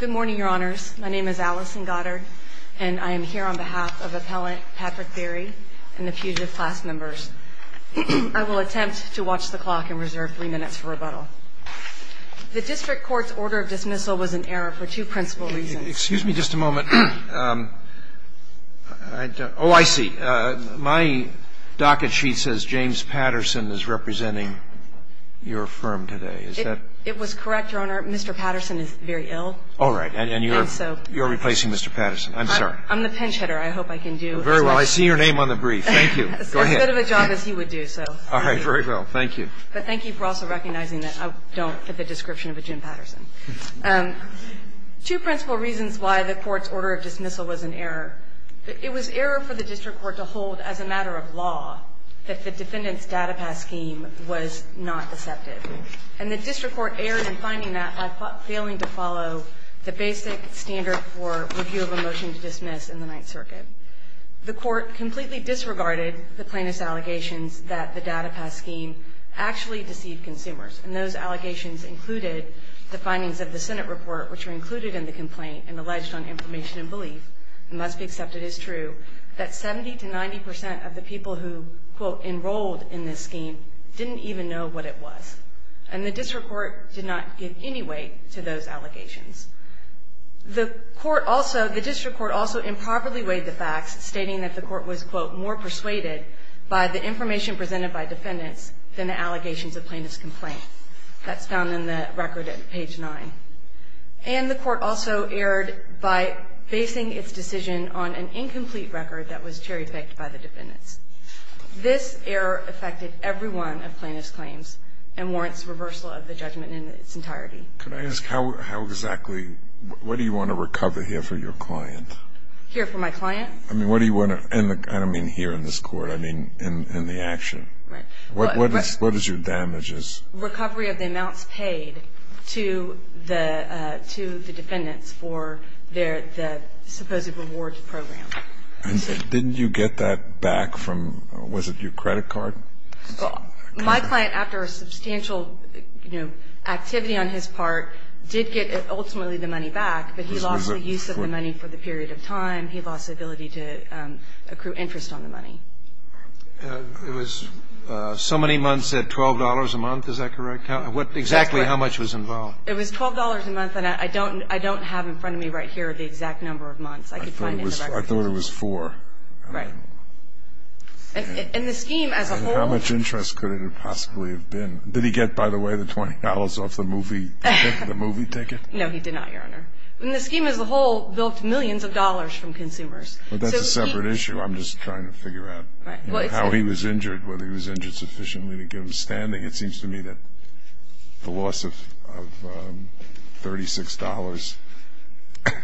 Good morning, Your Honors. My name is Allison Goddard, and I am here on behalf of Appellant Patrick Berry and the Puget class members. I will attempt to watch the clock and reserve three minutes for rebuttal. The District Court's order of dismissal was in error for two principal reasons. Excuse me just a moment. Oh, I see. My docket sheet says James Patterson is representing your firm today. Is that... It was correct, Your Honor. Mr. Patterson is very ill. All right. And you're replacing Mr. Patterson. I'm sorry. I'm the pinch hitter. I hope I can do as well. Very well. I see your name on the brief. Thank you. Go ahead. As good of a job as he would do, so... All right. Very well. Thank you. But thank you for also recognizing that I don't fit the description of a Jim Patterson. Two principal reasons why the Court's order of dismissal was in error. It was error for the District Court to hold as a matter of law that the defendant's So error in finding that by failing to follow the basic standard for review of a motion to dismiss in the Ninth Circuit. The Court completely disregarded the plaintiff's allegations that the DataPass scheme actually deceived consumers. And those allegations included the findings of the Senate report, which are included in the complaint and alleged on information and belief, and must be accepted as true, that 70 to 90 percent of the people who, quote, enrolled in this scheme didn't even know what it was. And the District Court did not give any weight to those allegations. The Court also, the District Court also improperly weighed the facts, stating that the Court was, quote, more persuaded by the information presented by defendants than the allegations of plaintiff's complaint. That's found in the record at page 9. And the Court also erred by basing its decision on an incomplete record that was cherry-picked by the defendants. This error affected every one of plaintiff's claims and warrants reversal of the judgment in its entirety. Can I ask how exactly, what do you want to recover here for your client? Here for my client? I mean, what do you want to, and I don't mean here in this Court, I mean in the action. Right. What is your damages? Recovery of the amounts paid to the defendants for their, the supposed rewards program. Didn't you get that back from, was it your credit card? My client, after a substantial, you know, activity on his part, did get ultimately the money back, but he lost the use of the money for the period of time. He lost the ability to accrue interest on the money. It was so many months at $12 a month. Is that correct? Exactly how much was involved? It was $12 a month, and I don't have in front of me right here the exact number of months. I could find it in the records. I thought it was four. Right. And the scheme as a whole. How much interest could it have possibly have been? Did he get, by the way, the $20 off the movie ticket? No, he did not, Your Honor. And the scheme as a whole built millions of dollars from consumers. But that's a separate issue. I'm just trying to figure out how he was injured, whether he was injured sufficiently to get him standing. It seems to me that the loss of $36,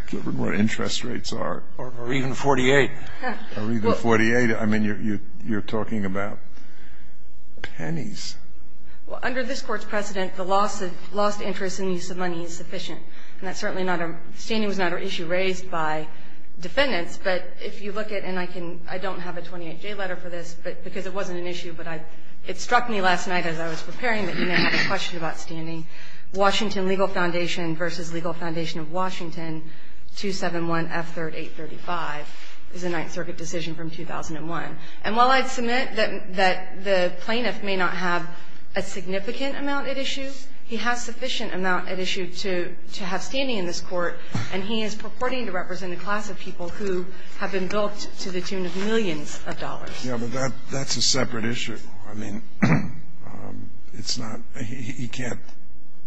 given what interest rates are. Or even 48. Or even 48. I mean, you're talking about pennies. Well, under this Court's precedent, the loss of lost interest in use of money is sufficient. And that's certainly not a issue raised by defendants. But if you look at, and I don't have a 28-J letter for this because it wasn't an issue, but it struck me last night as I was preparing that you may have a question about standing, Washington Legal Foundation v. Legal Foundation of Washington 271F3835 is a Ninth Circuit decision from 2001. And while I'd submit that the plaintiff may not have a significant amount at issue, he has sufficient amount at issue to have standing in this Court, and he is purporting to represent a class of people who have been bilked to the tune of millions of dollars. Yeah, but that's a separate issue. I mean, it's not he can't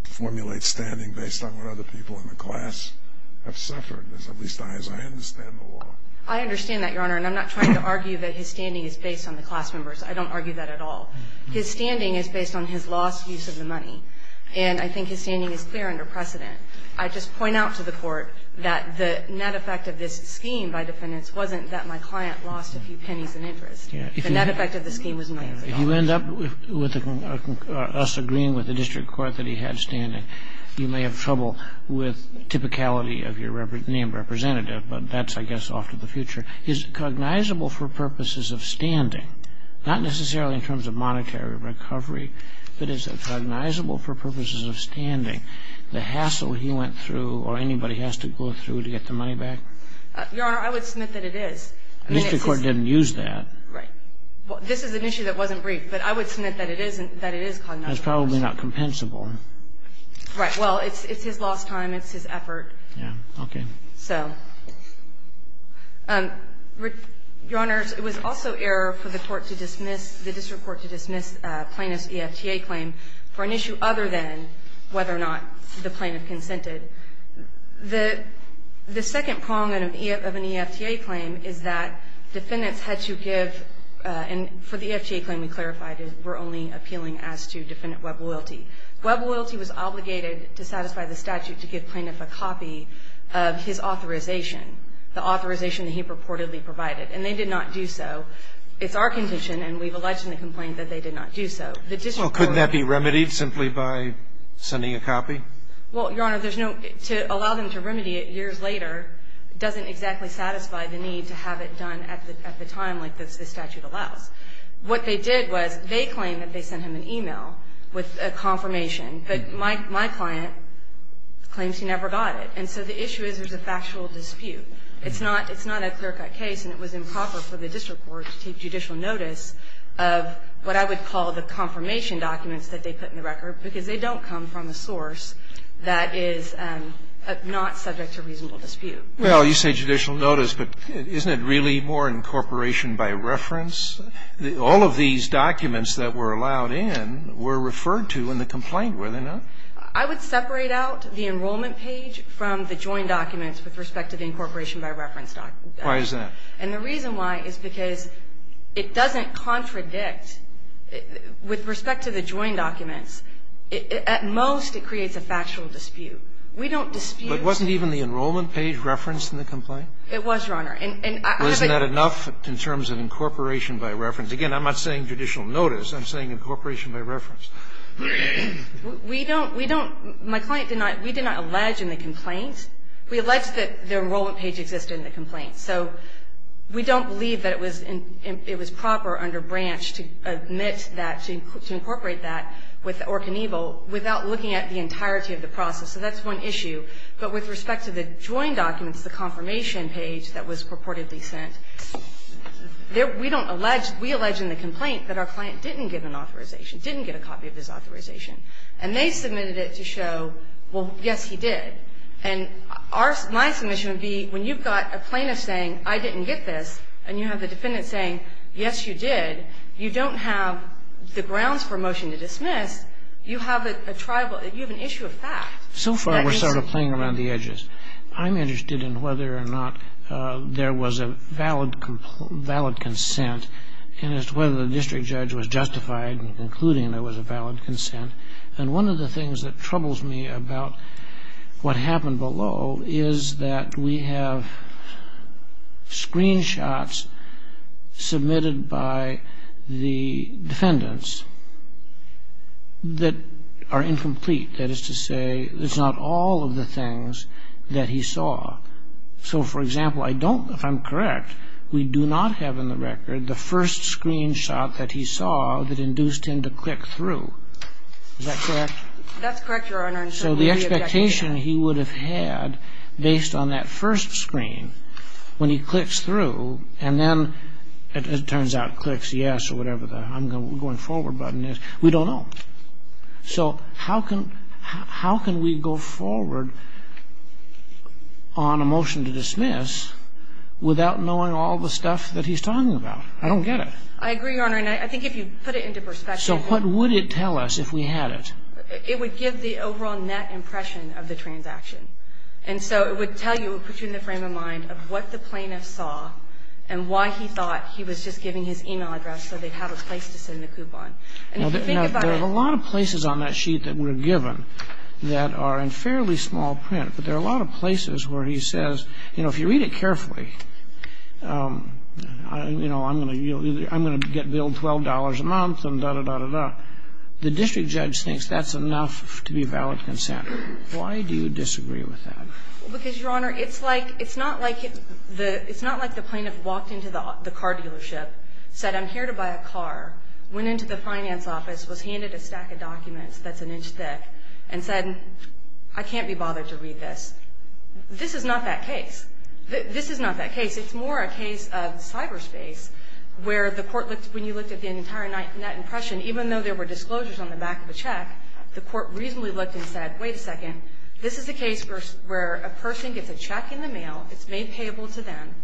formulate standing based on what other people in the class have suffered, at least as I understand the law. I understand that, Your Honor. And I'm not trying to argue that his standing is based on the class members. I don't argue that at all. His standing is based on his lost use of the money. And I think his standing is clear under precedent. I just point out to the Court that the net effect of this scheme by defendants wasn't that my client lost a few pennies in interest. The net effect of the scheme was millions of dollars. If you end up with us agreeing with the district court that he had standing, you may have trouble with typicality of your named representative. But that's, I guess, off to the future. Is it cognizable for purposes of standing, not necessarily in terms of monetary recovery, but is it cognizable for purposes of standing, the hassle he went through or anybody has to go through to get the money back? Your Honor, I would submit that it is. Mr. Court didn't use that. Right. This is an issue that wasn't briefed. But I would submit that it is cognizable. It's probably not compensable. Right. Well, it's his lost time. It's his effort. Okay. So, Your Honor, it was also error for the court to dismiss, the district court to dismiss plaintiff's EFTA claim for an issue other than whether or not the plaintiff consented. The second prong of an EFTA claim is that defendants had to give, and for the EFTA claim we clarified, we're only appealing as to defendant web loyalty. Web loyalty was obligated to satisfy the statute to give plaintiff a copy of his authorization, the authorization that he purportedly provided. And they did not do so. It's our condition, and we've alleged in the complaint that they did not do so. The district court did not. Well, couldn't that be remedied simply by sending a copy? Well, Your Honor, there's no – to allow them to remedy it years later doesn't exactly satisfy the need to have it done at the time like this statute allows. What they did was they claimed that they sent him an e-mail with a confirmation, but my client claims he never got it. And so the issue is there's a factual dispute. It's not a clear-cut case, and it was improper for the district court to take judicial notice of what I would call the confirmation documents that they put in the record because they don't come from a source that is not subject to reasonable dispute. Well, you say judicial notice, but isn't it really more incorporation by reference? All of these documents that were allowed in were referred to in the complaint, were they not? I would separate out the enrollment page from the joint documents with respect to the incorporation by reference document. Why is that? And the reason why is because it doesn't contradict with respect to the joint documents at most it creates a factual dispute. We don't dispute. But wasn't even the enrollment page referenced in the complaint? It was, Your Honor. And I have a question. Wasn't that enough in terms of incorporation by reference? Again, I'm not saying judicial notice. I'm saying incorporation by reference. We don't, we don't. My client did not, we did not allege in the complaint. We allege that the enrollment page existed in the complaint. So we don't believe that it was proper under Branch to admit that, to incorporate that with Ork and Evil without looking at the entirety of the process. So that's one issue. But with respect to the joint documents, the confirmation page that was purportedly sent, we don't allege, we allege in the complaint that our client didn't get an authorization, didn't get a copy of his authorization. And they submitted it to show, well, yes, he did. And our, my submission would be when you've got a plaintiff saying, I didn't get this, and you have the defendant saying, yes, you did, you don't have the grounds for a motion to dismiss. You have a tribal, you have an issue of fact. So far we're sort of playing around the edges. I'm interested in whether or not there was a valid consent and as to whether the district judge was justified in concluding there was a valid consent. And one of the things that troubles me about what happened below is that we have screenshots submitted by the defendants that are incomplete. That is to say, it's not all of the things that he saw. So, for example, I don't, if I'm correct, we do not have in the record the first screenshot that he saw that induced him to click through. Is that correct? That's correct, Your Honor, and certainly we object to that. The expectation he would have had based on that first screen when he clicks through and then it turns out clicks yes or whatever the I'm going forward button is, we don't know. So how can, how can we go forward on a motion to dismiss without knowing all the stuff that he's talking about? I don't get it. I agree, Your Honor, and I think if you put it into perspective. So what would it tell us if we had it? It would give the overall net impression of the transaction. And so it would tell you, it would put you in the frame of mind of what the plaintiff saw and why he thought he was just giving his email address so they'd have a place to send the coupon. Now, there are a lot of places on that sheet that were given that are in fairly small print, but there are a lot of places where he says, you know, if you read it carefully, you know, I'm going to get billed $12 a month and da-da-da-da-da. The district judge thinks that's enough to be valid consent. Why do you disagree with that? Because, Your Honor, it's like, it's not like the plaintiff walked into the car dealership, said I'm here to buy a car, went into the finance office, was handed a stack of documents that's an inch thick, and said I can't be bothered to read this. This is not that case. This is not that case. It's more a case of cyberspace where the court looked, when you looked at the entire net impression, even though there were disclosures on the back of the check, the court reasonably looked and said, wait a second, this is a case where a person gets a check in the mail, it's made payable to them,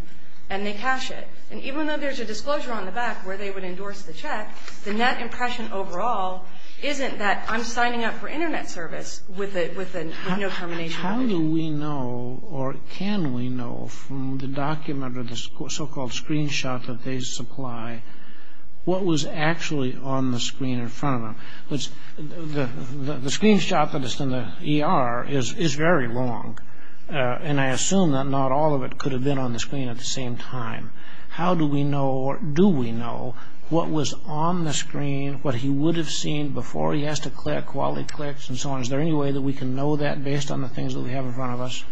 and they cash it. And even though there's a disclosure on the back where they would endorse the check, the net impression overall isn't that I'm signing up for Internet service with no termination. How do we know or can we know from the document or the so-called screenshot that they supply what was actually on the screen in front of them? The screenshot that is in the ER is very long, and I assume that not all of it could have been on the screen at the same time. How do we know or do we know what was on the screen, what he would have seen before he has to click, while he clicks, and so on? Is there any way that we can know that based on the things that we have in front of us?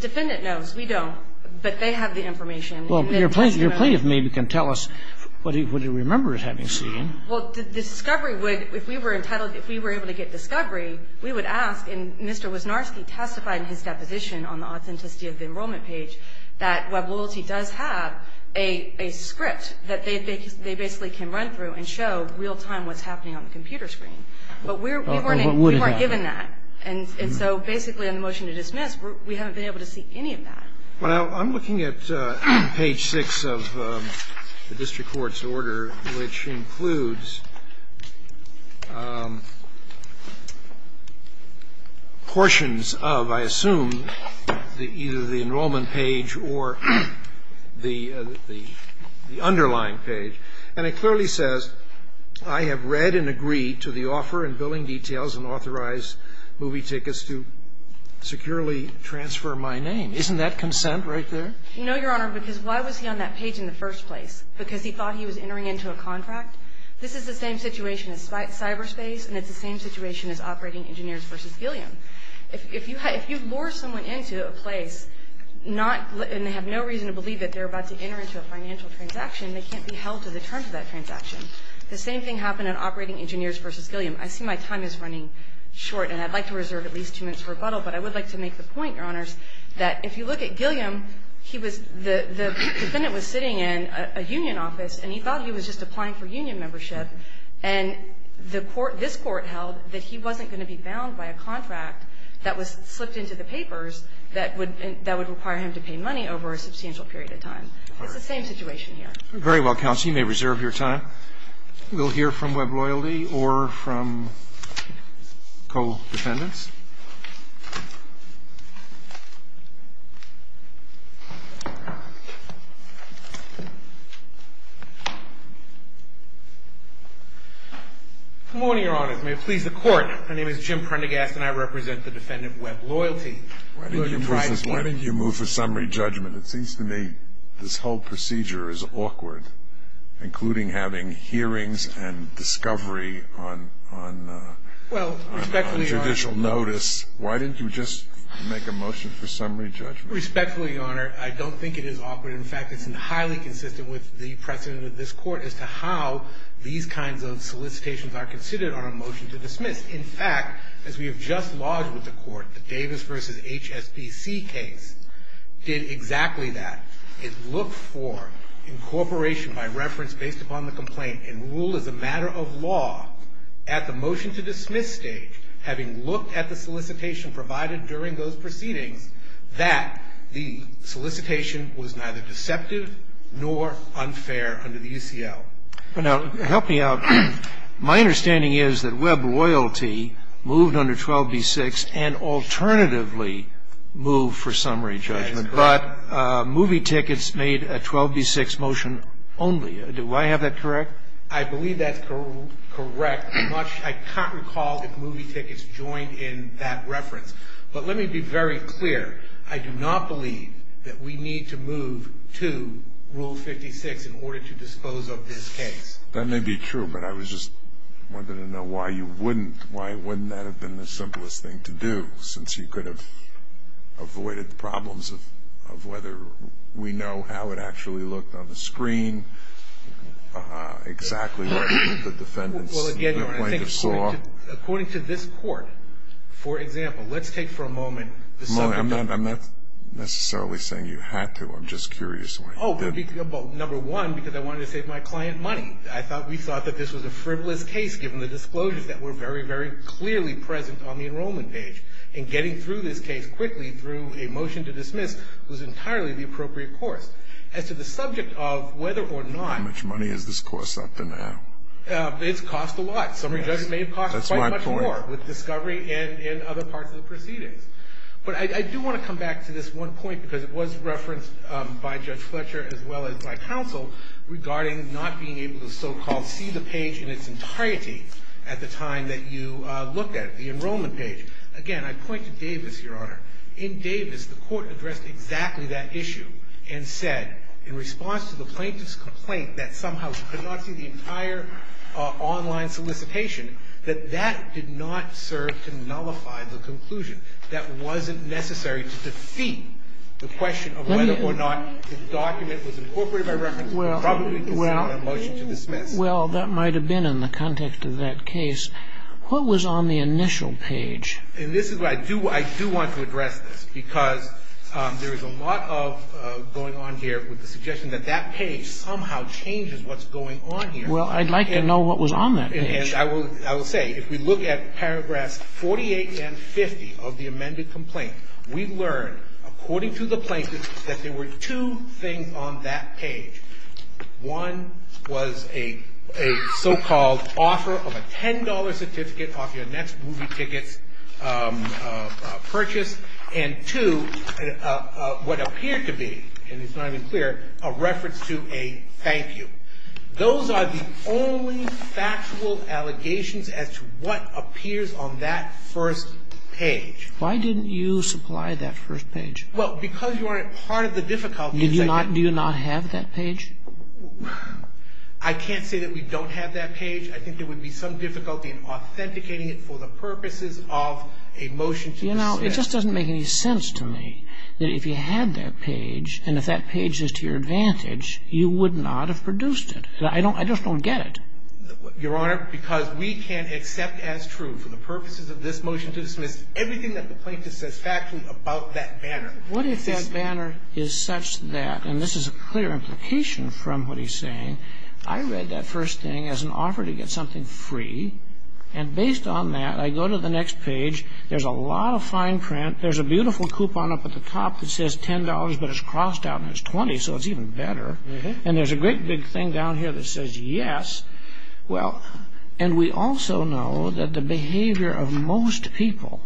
Defendant knows. We don't. But they have the information. Well, your plaintiff maybe can tell us what he remembers having seen. Well, the discovery would, if we were entitled, if we were able to get discovery, we would ask, and Mr. Wisnarski testified in his deposition on the authenticity of the enrollment page, that WebLoyalty does have a script that they basically can run through and show real-time what's happening on the computer screen. But we weren't given that. And so basically in the motion to dismiss, we haven't been able to see any of that. Well, I'm looking at page 6 of the district court's order, which includes portions of, I assume, either the enrollment page or the underlying page. And it clearly says, I have read and agreed to the offer in billing details and authorized movie tickets to securely transfer my name. Isn't that consent right there? No, Your Honor, because why was he on that page in the first place? Because he thought he was entering into a contract? This is the same situation as cyberspace, and it's the same situation as Operating Engineers v. Gilliam. If you lure someone into a place, not, and they have no reason to believe that they're about to enter into a financial transaction, they can't be held to the terms of that transaction. The same thing happened in Operating Engineers v. Gilliam. I see my time is running short, and I'd like to reserve at least two minutes for rebuttal, but I would like to make the point, Your Honors, that if you look at Gilliam, he was, the defendant was sitting in a union office, and he thought he was just applying for union membership, and the court, this court held that he wasn't going to be bound by a contract that was slipped into the papers that would require him to pay money over a substantial period of time. It's the same situation here. Very well, counsel. You may reserve your time. We'll hear from Webb Loyalty or from co-defendants. Good morning, Your Honors. May it please the Court. My name is Jim Prendergast, and I represent the defendant Webb Loyalty. Why don't you move for summary judgment? It seems to me this whole procedure is awkward, including having hearings and discovery on judicial notice. Why didn't you just make a motion for summary judgment? Respectfully, Your Honor, I don't think it is awkward. In fact, it's highly consistent with the precedent of this Court as to how these kinds of solicitations are considered on a motion to dismiss. In fact, as we have just lodged with the Court, the Davis v. HSBC case did exactly that. It looked for incorporation by reference based upon the complaint and ruled as a matter of law at the motion to dismiss stage, having looked at the solicitation provided during those proceedings, that the solicitation was neither deceptive nor unfair under the UCL. Now, help me out. My understanding is that Webb Loyalty moved under 12b-6 and alternatively moved for summary judgment. That is correct. But movie tickets made a 12b-6 motion only. Do I have that correct? I believe that's correct. I can't recall if movie tickets joined in that reference. But let me be very clear. I do not believe that we need to move to Rule 56 in order to disclose of this case. That may be true, but I was just wondering to know why you wouldn't. Why wouldn't that have been the simplest thing to do since you could have avoided the problems of whether we know how it actually looked on the screen, exactly what the defendant's complaint saw. According to this court, for example, let's take for a moment. I'm not necessarily saying you had to. I'm just curious why you didn't. Number one, because I wanted to save my client money. We thought that this was a frivolous case given the disclosures that were very, very clearly present on the enrollment page. And getting through this case quickly through a motion to dismiss was entirely the appropriate course. As to the subject of whether or not. How much money is this course up to now? It's cost a lot. Some of you may have cost quite a bit more with discovery and other parts of the proceedings. But I do want to come back to this one point because it was referenced by Judge Fletcher as well as by counsel regarding not being able to so-called see the page in its entirety at the time that you looked at it, the enrollment page. Again, I point to Davis, Your Honor. In Davis, the court addressed exactly that issue and said in response to the plaintiff's complaint that somehow she could not see the entire online solicitation, that that did not serve to nullify the conclusion. That wasn't necessary to defeat the question of whether or not the document was incorporated by reference to the property. Well, that might have been in the context of that case. What was on the initial page? And this is where I do want to address this because there is a lot of going on here with the suggestion that that page somehow changes what's going on here. Well, I'd like to know what was on that page. And I will say, if we look at paragraphs 48 and 50 of the amended complaint, we learn, according to the plaintiff, that there were two things on that page. One was a so-called offer of a $10 certificate off your next movie ticket purchase. And two, what appeared to be, and it's not even clear, a reference to a thank you. Those are the only factual allegations as to what appears on that first page. Why didn't you supply that first page? Well, because you weren't part of the difficulty. Do you not have that page? I can't say that we don't have that page. I think there would be some difficulty in authenticating it for the purposes of a motion to dismiss. You know, it just doesn't make any sense to me that if you had that page and if that page is to your advantage, you would not have produced it. I don't get it. Your Honor, because we can't accept as true for the purposes of this motion to dismiss everything that the plaintiff says factually about that banner. What if that banner is such that, and this is a clear implication from what he's saying, I read that first thing as an offer to get something free. And based on that, I go to the next page. There's a lot of fine print. There's a beautiful coupon up at the top that says $10, but it's crossed out and it's 20, so it's even better. And there's a great big thing down here that says yes. Well, and we also know that the behavior of most people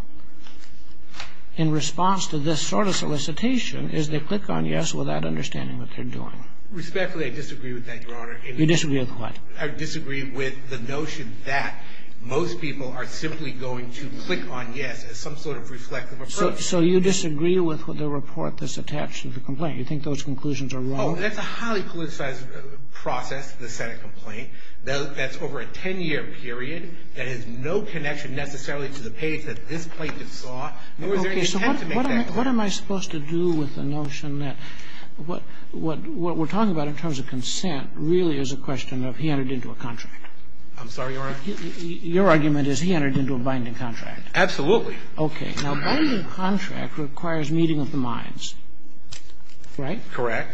in response to this sort of solicitation is they click on yes without understanding what they're doing. Respectfully, I disagree with that, Your Honor. You disagree with what? I disagree with the notion that most people are simply going to click on yes as some sort of reflective approach. So you disagree with the report that's attached to the complaint? You think those conclusions are wrong? Oh, that's a highly politicized process, the Senate complaint. That's over a 10-year period. That has no connection necessarily to the page that this plaintiff saw, nor is there I disagree with that. So what am I supposed to do with the notion that what we're talking about in terms of consent really is a question of he entered into a contract. I'm sorry, Your Honor. Your argument is he entered into a binding contract. Absolutely. Okay. Now, a binding contract requires meeting of the minds, right? Correct.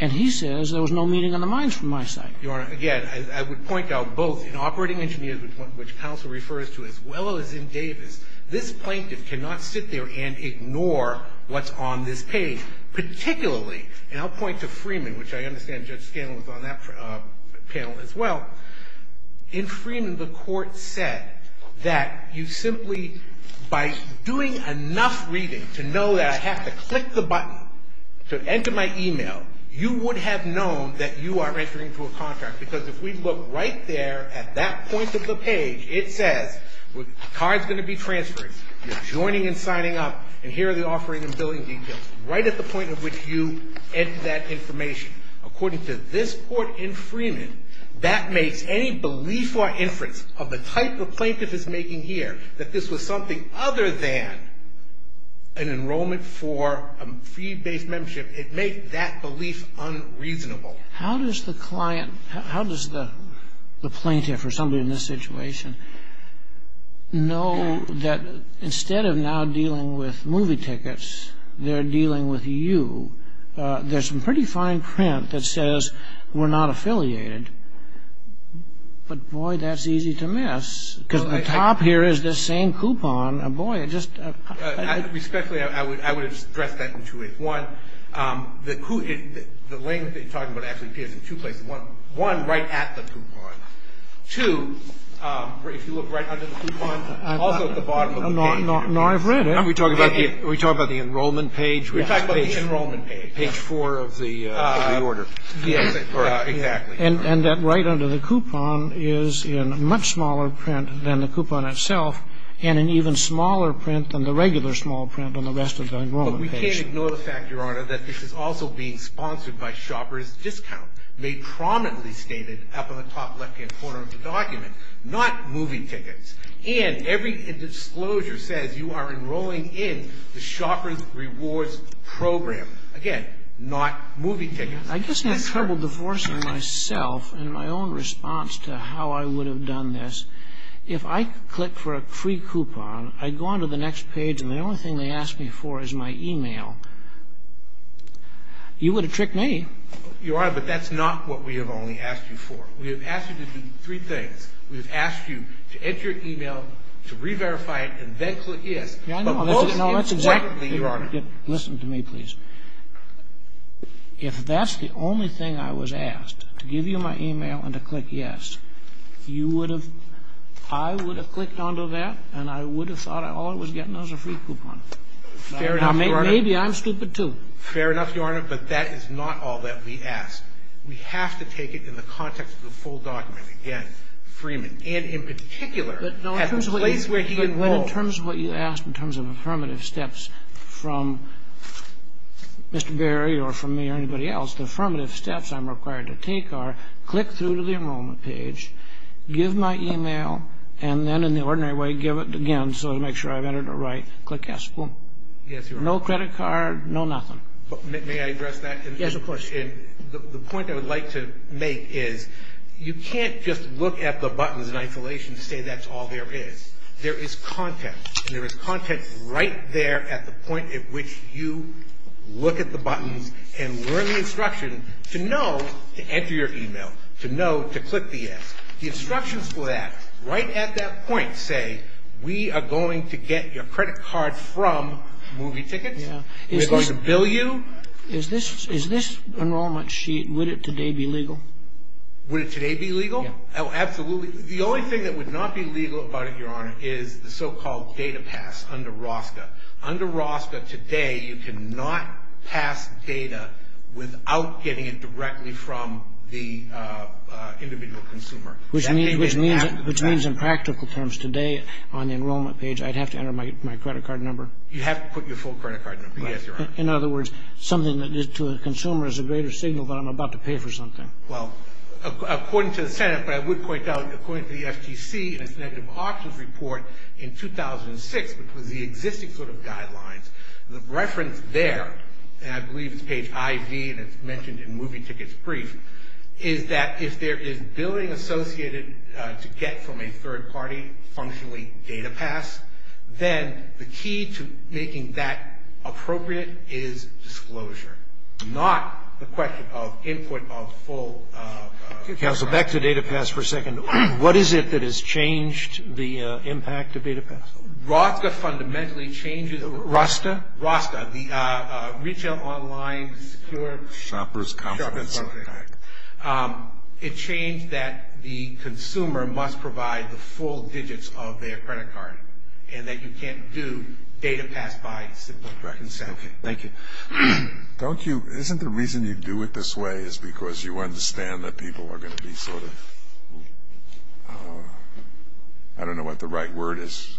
And he says there was no meeting of the minds from my side. Your Honor, again, I would point out both in Operating Engineers, which counsel refers to, as well as in Davis, this plaintiff cannot sit there and ignore what's on this page. Particularly, and I'll point to Freeman, which I understand Judge Scanlon was on that panel as well. In Freeman, the court said that you simply, by doing enough reading to know that I have to click the button to enter my email, you would have known that you are entering into a contract. Because if we look right there at that point of the page, it says the card's going to be transferred, you're joining and signing up, and here are the offering and billing details, right at the point at which you enter that information. According to this court in Freeman, that makes any belief or inference of the type the plaintiff is making here, that this was something other than an enrollment for a fee-based membership, it makes that belief unreasonable. How does the client, how does the plaintiff or somebody in this situation know that instead of now dealing with movie tickets, they're dealing with you? There's some pretty fine print that says we're not affiliated. But, boy, that's easy to miss. Because on the top here is this same coupon. Boy, it just... Respectfully, I would address that in two ways. One, the language that you're talking about actually appears in two places. One, right at the coupon. Two, if you look right under the coupon, also at the bottom of the page. No, I've read it. Are we talking about the enrollment page? We're talking about the enrollment page. Page four of the order. Yes, exactly. And that right under the coupon is in much smaller print than the coupon itself, and in even smaller print than the regular small print on the rest of the enrollment page. We can't ignore the fact, Your Honor, that this is also being sponsored by Shopper's Discount, made prominently stated up on the top left-hand corner of the document. Not movie tickets. And every disclosure says you are enrolling in the Shopper's Rewards Program. Again, not movie tickets. I guess I have trouble divorcing myself in my own response to how I would have done this. If I click for a free coupon, I go on to the next page, and the only thing they ask me for is my e-mail. You would have tricked me. Your Honor, but that's not what we have only asked you for. We have asked you to do three things. We have asked you to enter your e-mail, to re-verify it, and then click yes. Yeah, I know. But most importantly, Your Honor. Listen to me, please. If that's the only thing I was asked, to give you my e-mail and to click yes, you would have – I would have clicked onto that, and I would have thought all I was getting was a free coupon. Fair enough, Your Honor. Now, maybe I'm stupid, too. Fair enough, Your Honor. But that is not all that we ask. We have to take it in the context of the full document. Again, Freeman, and in particular, at the place where he enrolled. But in terms of what you asked, in terms of affirmative steps from Mr. Berry or from me or anybody else, the affirmative steps I'm required to take are click through the enrollment page, give my e-mail, and then in the ordinary way give it again so to make sure I've entered it right, click yes. Boom. Yes, Your Honor. No credit card, no nothing. May I address that? Yes, of course. The point I would like to make is you can't just look at the buttons in isolation and say that's all there is. There is content, and there is content right there at the point at which you look at the buttons and learn the instruction to know to enter your e-mail, to know to click the yes. The instructions for that right at that point say we are going to get your credit card from movie tickets. We're going to bill you. Is this enrollment sheet, would it today be legal? Would it today be legal? Yes. Oh, absolutely. The only thing that would not be legal about it, Your Honor, is the so-called data pass under ROSCA. Under ROSCA today, you cannot pass data without getting it directly from the individual consumer. Which means in practical terms today on the enrollment page, I'd have to enter my credit card number? You have to put your full credit card number, yes, Your Honor. In other words, something that is to a consumer is a greater signal that I'm about to pay for something. Well, according to the Senate, but I would point out, according to the FTC, and its negative options report in 2006, which was the existing sort of guidelines, the reference there, and I believe it's page IV, and it's mentioned in movie tickets brief, is that if there is billing associated to get from a third party functionally data pass, then the key to making that appropriate is disclosure, not the question of input of full. Counsel, back to data pass for a second. What is it that has changed the impact of data pass? ROSCA fundamentally changes, ROSTA? ROSTA, the Retail Online Secure Shopper's Confidence Impact. It changed that the consumer must provide the full digits of their credit card, and that you can't do data pass by simple consent. Thank you. Don't you, isn't the reason you do it this way is because you understand that people are going to be sort of, I don't know what the right word is,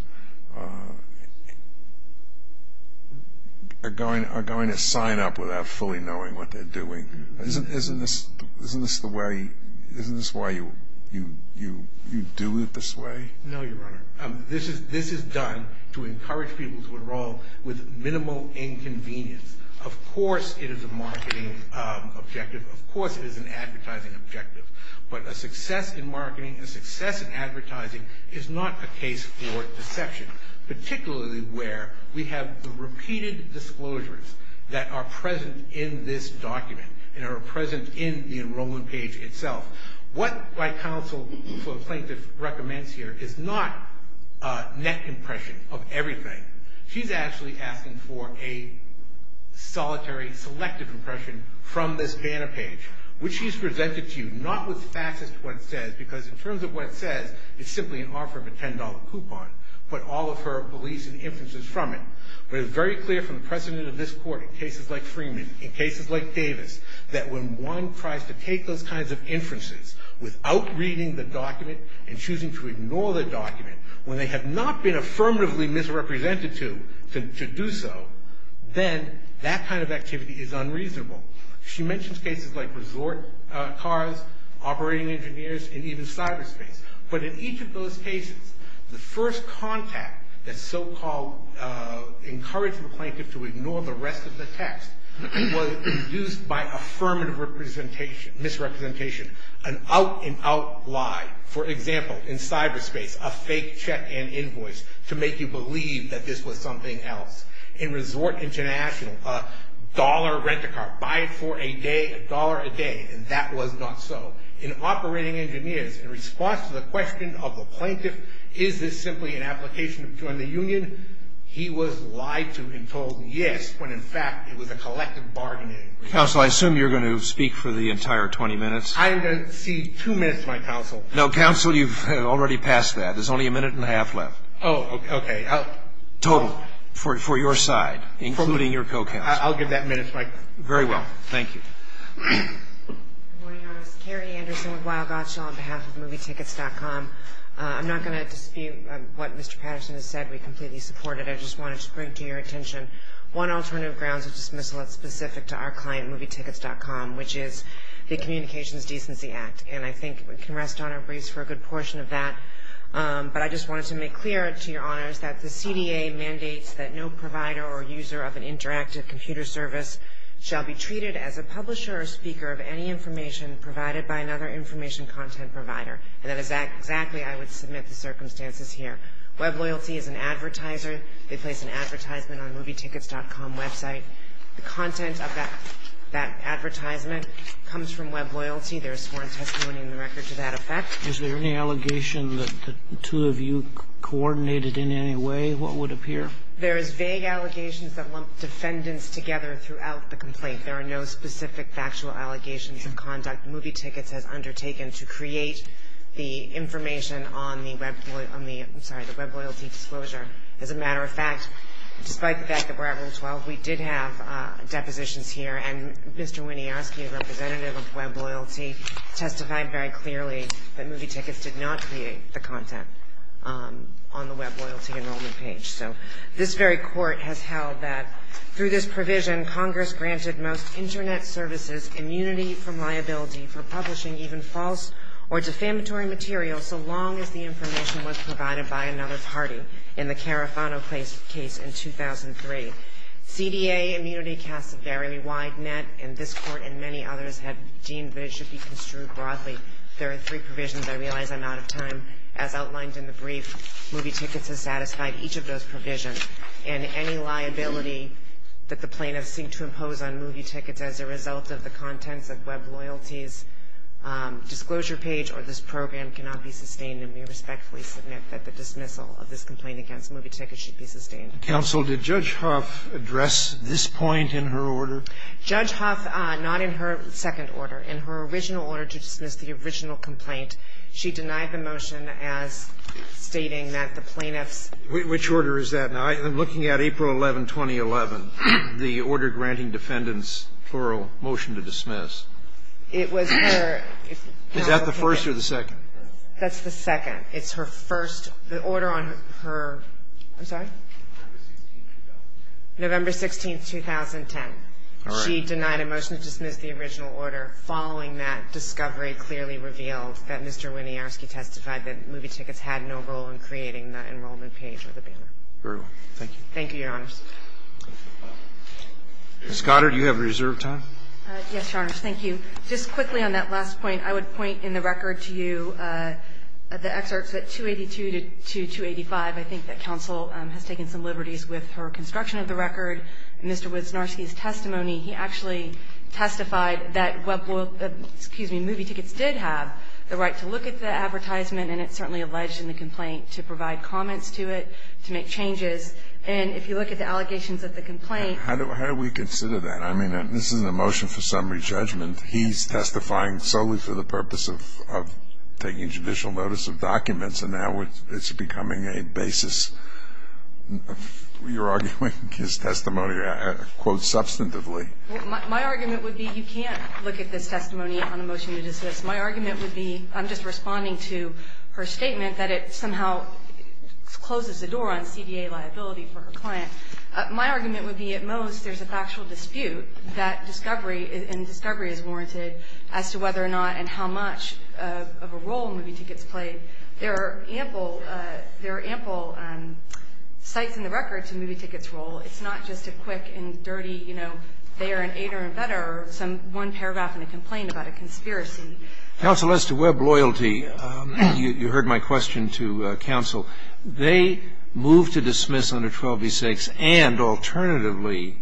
are going to sign up without fully knowing what they're doing. Isn't this the way, isn't this why you do it this way? No, Your Honor. This is done to encourage people to enroll with minimal inconvenience. Of course it is a marketing objective. Of course it is an advertising objective. But a success in marketing, a success in advertising is not a case for deception, particularly where we have the repeated disclosures that are present in this document and are present in the enrollment page itself. What my counsel for plaintiff recommends here is not net impression of everything. She's actually asking for a solitary, selective impression from this banner page, which she's presented to you, not with facts as to what it says, because in terms of what it says, it's simply an offer of a $10 coupon. Put all of her beliefs and inferences from it. But it's very clear from the precedent of this court in cases like Freeman, in cases like Davis, that when one tries to take those kinds of inferences without reading the document and choosing to ignore the document, when they have not been affirmatively misrepresented to do so, then that kind of activity is unreasonable. She mentions cases like resort cars, operating engineers, and even cyberspace. But in each of those cases, the first contact that so-called encouraged the plaintiff to ignore the rest of the text was induced by affirmative misrepresentation, an out-and-out lie. For example, in cyberspace, a fake check-in invoice to make you believe that this was something else. In resort international, a dollar rent-a-car, buy it for a day, a dollar a day, and that was not so. In operating engineers, in response to the question of the plaintiff, is this simply an application to join the union, he was lied to and told yes, when in fact it was a collective bargaining agreement. Counsel, I assume you're going to speak for the entire 20 minutes. I am going to cede two minutes to my counsel. No, counsel, you've already passed that. There's only a minute and a half left. Oh, okay. Total, for your side, including your co-counsel. I'll give that minute to my co-counsel. Very well. Thank you. Good morning, Your Honor. Carrie Anderson with Weill Gottschall on behalf of MovieTickets.com. I'm not going to dispute what Mr. Patterson has said. We completely support it. I just wanted to bring to your attention one alternative grounds of dismissal that's specific to our client, MovieTickets.com, which is the Communications Decency Act. And I think we can rest on our brace for a good portion of that. But I just wanted to make clear to your honors that the CDA mandates that no provider or user of an interactive computer service shall be treated as a publisher or speaker of any information provided by another information content provider. And that is exactly I would submit the circumstances here. WebLoyalty is an advertiser. They place an advertisement on MovieTickets.com website. The content of that advertisement comes from WebLoyalty. There is sworn testimony in the record to that effect. Is there any allegation that the two of you coordinated in any way, what would appear? There is vague allegations that lump defendants together throughout the complaint. There are no specific factual allegations of conduct MovieTickets has undertaken to create the information on the WebLoyalty disclosure. As a matter of fact, despite the fact that we're at Rule 12, we did have depositions here. And Mr. Winiarski, a representative of WebLoyalty, testified very clearly that MovieTickets did not create the content on the WebLoyalty enrollment page. So this very court has held that through this provision, Congress granted most Internet services immunity from liability for publishing even false or defamatory material so long as the information was provided by another party in the Carafano case in 2003. CDA immunity casts a very wide net, and this court and many others have deemed that it should be construed broadly. There are three provisions. I realize I'm out of time. As outlined in the brief, MovieTickets has satisfied each of those provisions. And any liability that the plaintiffs seem to impose on MovieTickets as a result of the contents of WebLoyalty's disclosure page or this program cannot be sustained. And we respectfully submit that the dismissal of this complaint against MovieTickets should be sustained. Thank you. Counsel, did Judge Huff address this point in her order? Judge Huff, not in her second order. In her original order to dismiss the original complaint, she denied the motion as stating that the plaintiffs ---- Which order is that now? I'm looking at April 11, 2011, the order granting defendants plural motion to dismiss. It was her ---- Is that the first or the second? That's the second. It's her first. The order on her ---- I'm sorry? November 16, 2010. All right. She denied a motion to dismiss the original order. Following that, discovery clearly revealed that Mr. Winiarski testified that MovieTickets had no role in creating the enrollment page or the banner. Very well. Thank you. Thank you, Your Honors. Ms. Goddard, you have reserved time. Yes, Your Honors. Thank you. Just quickly on that last point, I would point in the record to you the excerpts at 282 to 285. I think that counsel has taken some liberties with her construction of the record. In Mr. Winiarski's testimony, he actually testified that Web ---- excuse me, MovieTickets did have the right to look at the advertisement, and it's certainly alleged in the complaint, to provide comments to it, to make changes. And if you look at the allegations of the complaint ---- How do we consider that? I mean, this is a motion for summary judgment. He's testifying solely for the purpose of taking judicial notice of documents, and now it's becoming a basis. You're arguing his testimony, quote, substantively. Well, my argument would be you can't look at this testimony on a motion to dismiss. My argument would be I'm just responding to her statement that it somehow closes the door on CDA liability for her client. My argument would be, at most, there's a factual dispute that discovery is warranted as to whether or not and how much of a role MovieTickets played. There are ample ---- there are ample sites in the record to MovieTickets' role. It's not just a quick and dirty, you know, they are an aider and better, or one paragraph in a complaint about a conspiracy. Counsel, as to Web loyalty, you heard my question to counsel. They moved to dismiss under 12v6, and alternatively,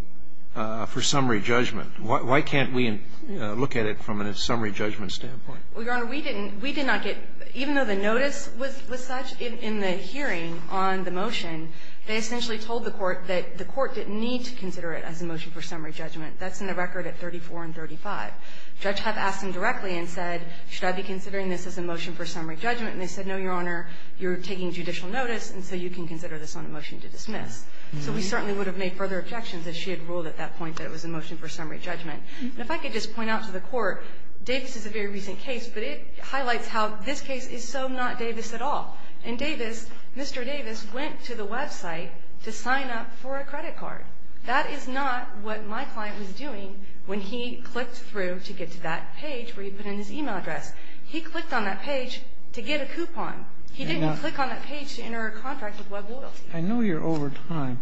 for summary judgment. Why can't we look at it from a summary judgment standpoint? Well, Your Honor, we didn't. We did not get ---- even though the notice was such, in the hearing on the motion, they essentially told the court that the court didn't need to consider it as a motion for summary judgment. That's in the record at 34 and 35. The judge had asked them directly and said, should I be considering this as a motion for summary judgment? And they said, no, Your Honor, you're taking judicial notice, and so you can consider this on a motion to dismiss. So we certainly would have made further objections if she had ruled at that point that it was a motion for summary judgment. And if I could just point out to the court, Davis is a very recent case, but it highlights how this case is so not Davis at all. In Davis, Mr. Davis went to the website to sign up for a credit card. That is not what my client was doing when he clicked through to get to that page where he put in his e-mail address. He clicked on that page to get a coupon. He didn't click on that page to enter a contract with Web loyalty. I know you're over time,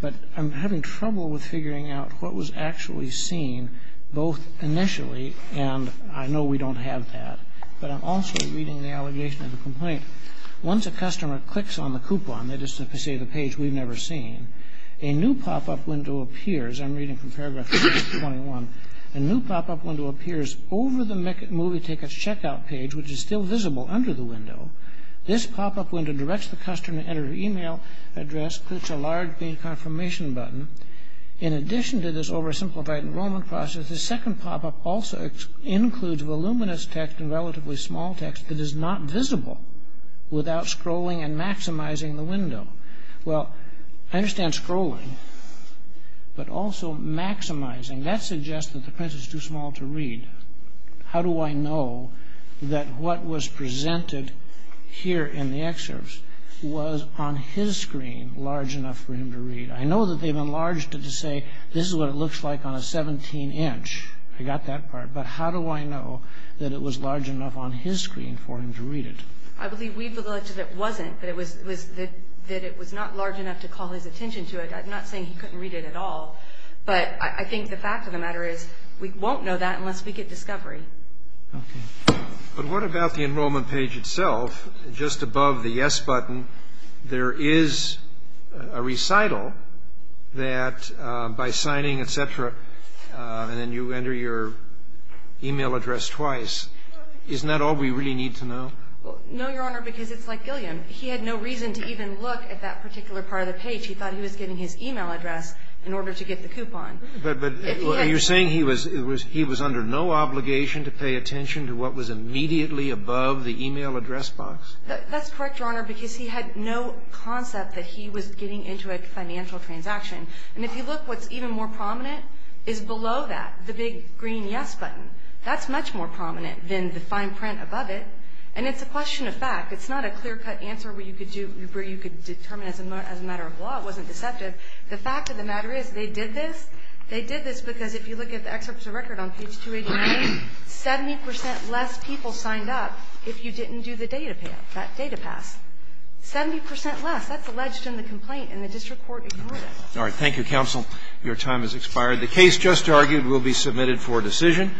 but I'm having trouble with figuring out what was actually seen both initially, and I know we don't have that, but I'm also reading the allegation of the complaint. Once a customer clicks on the coupon, that is to say the page we've never seen, a new pop-up window appears. I'm reading from paragraph 21. A new pop-up window appears over the movie tickets checkout page, which is still visible under the window. This pop-up window directs the customer to enter an e-mail address, clicks a large confirmation button. In addition to this oversimplified enrollment process, the second pop-up also includes voluminous text and relatively small text that is not visible without scrolling and maximizing the window. Well, I understand scrolling, but also maximizing. That suggests that the print is too small to read. How do I know that what was presented here in the excerpts was on his screen large enough for him to read? I know that they've enlarged it to say this is what it looks like on a 17-inch. I got that part, but how do I know that it was large enough on his screen for him to read it? I believe we've alleged that it wasn't, that it was not large enough to call his attention to it. I'm not saying he couldn't read it at all, but I think the fact of the matter is we won't know that unless we get discovery. Okay. But what about the enrollment page itself? Just above the yes button, there is a recital that by signing, et cetera, and then you enter your e-mail address twice. Isn't that all we really need to know? No, Your Honor, because it's like Gilliam. He had no reason to even look at that particular part of the page. He thought he was getting his e-mail address in order to get the coupon. But you're saying he was under no obligation to pay attention to what was immediately above the e-mail address box? That's correct, Your Honor, because he had no concept that he was getting into a financial transaction. And if you look, what's even more prominent is below that, the big green yes button. That's much more prominent than the fine print above it. And it's a question of fact. It's not a clear-cut answer where you could determine as a matter of law it wasn't deceptive. The fact of the matter is they did this. They did this because if you look at the excerpts of record on page 289, 70 percent less people signed up if you didn't do the data pass. 70 percent less. That's alleged in the complaint, and the district court ignored it. All right. Thank you, counsel. Your time has expired. The case just argued will be submitted for decision.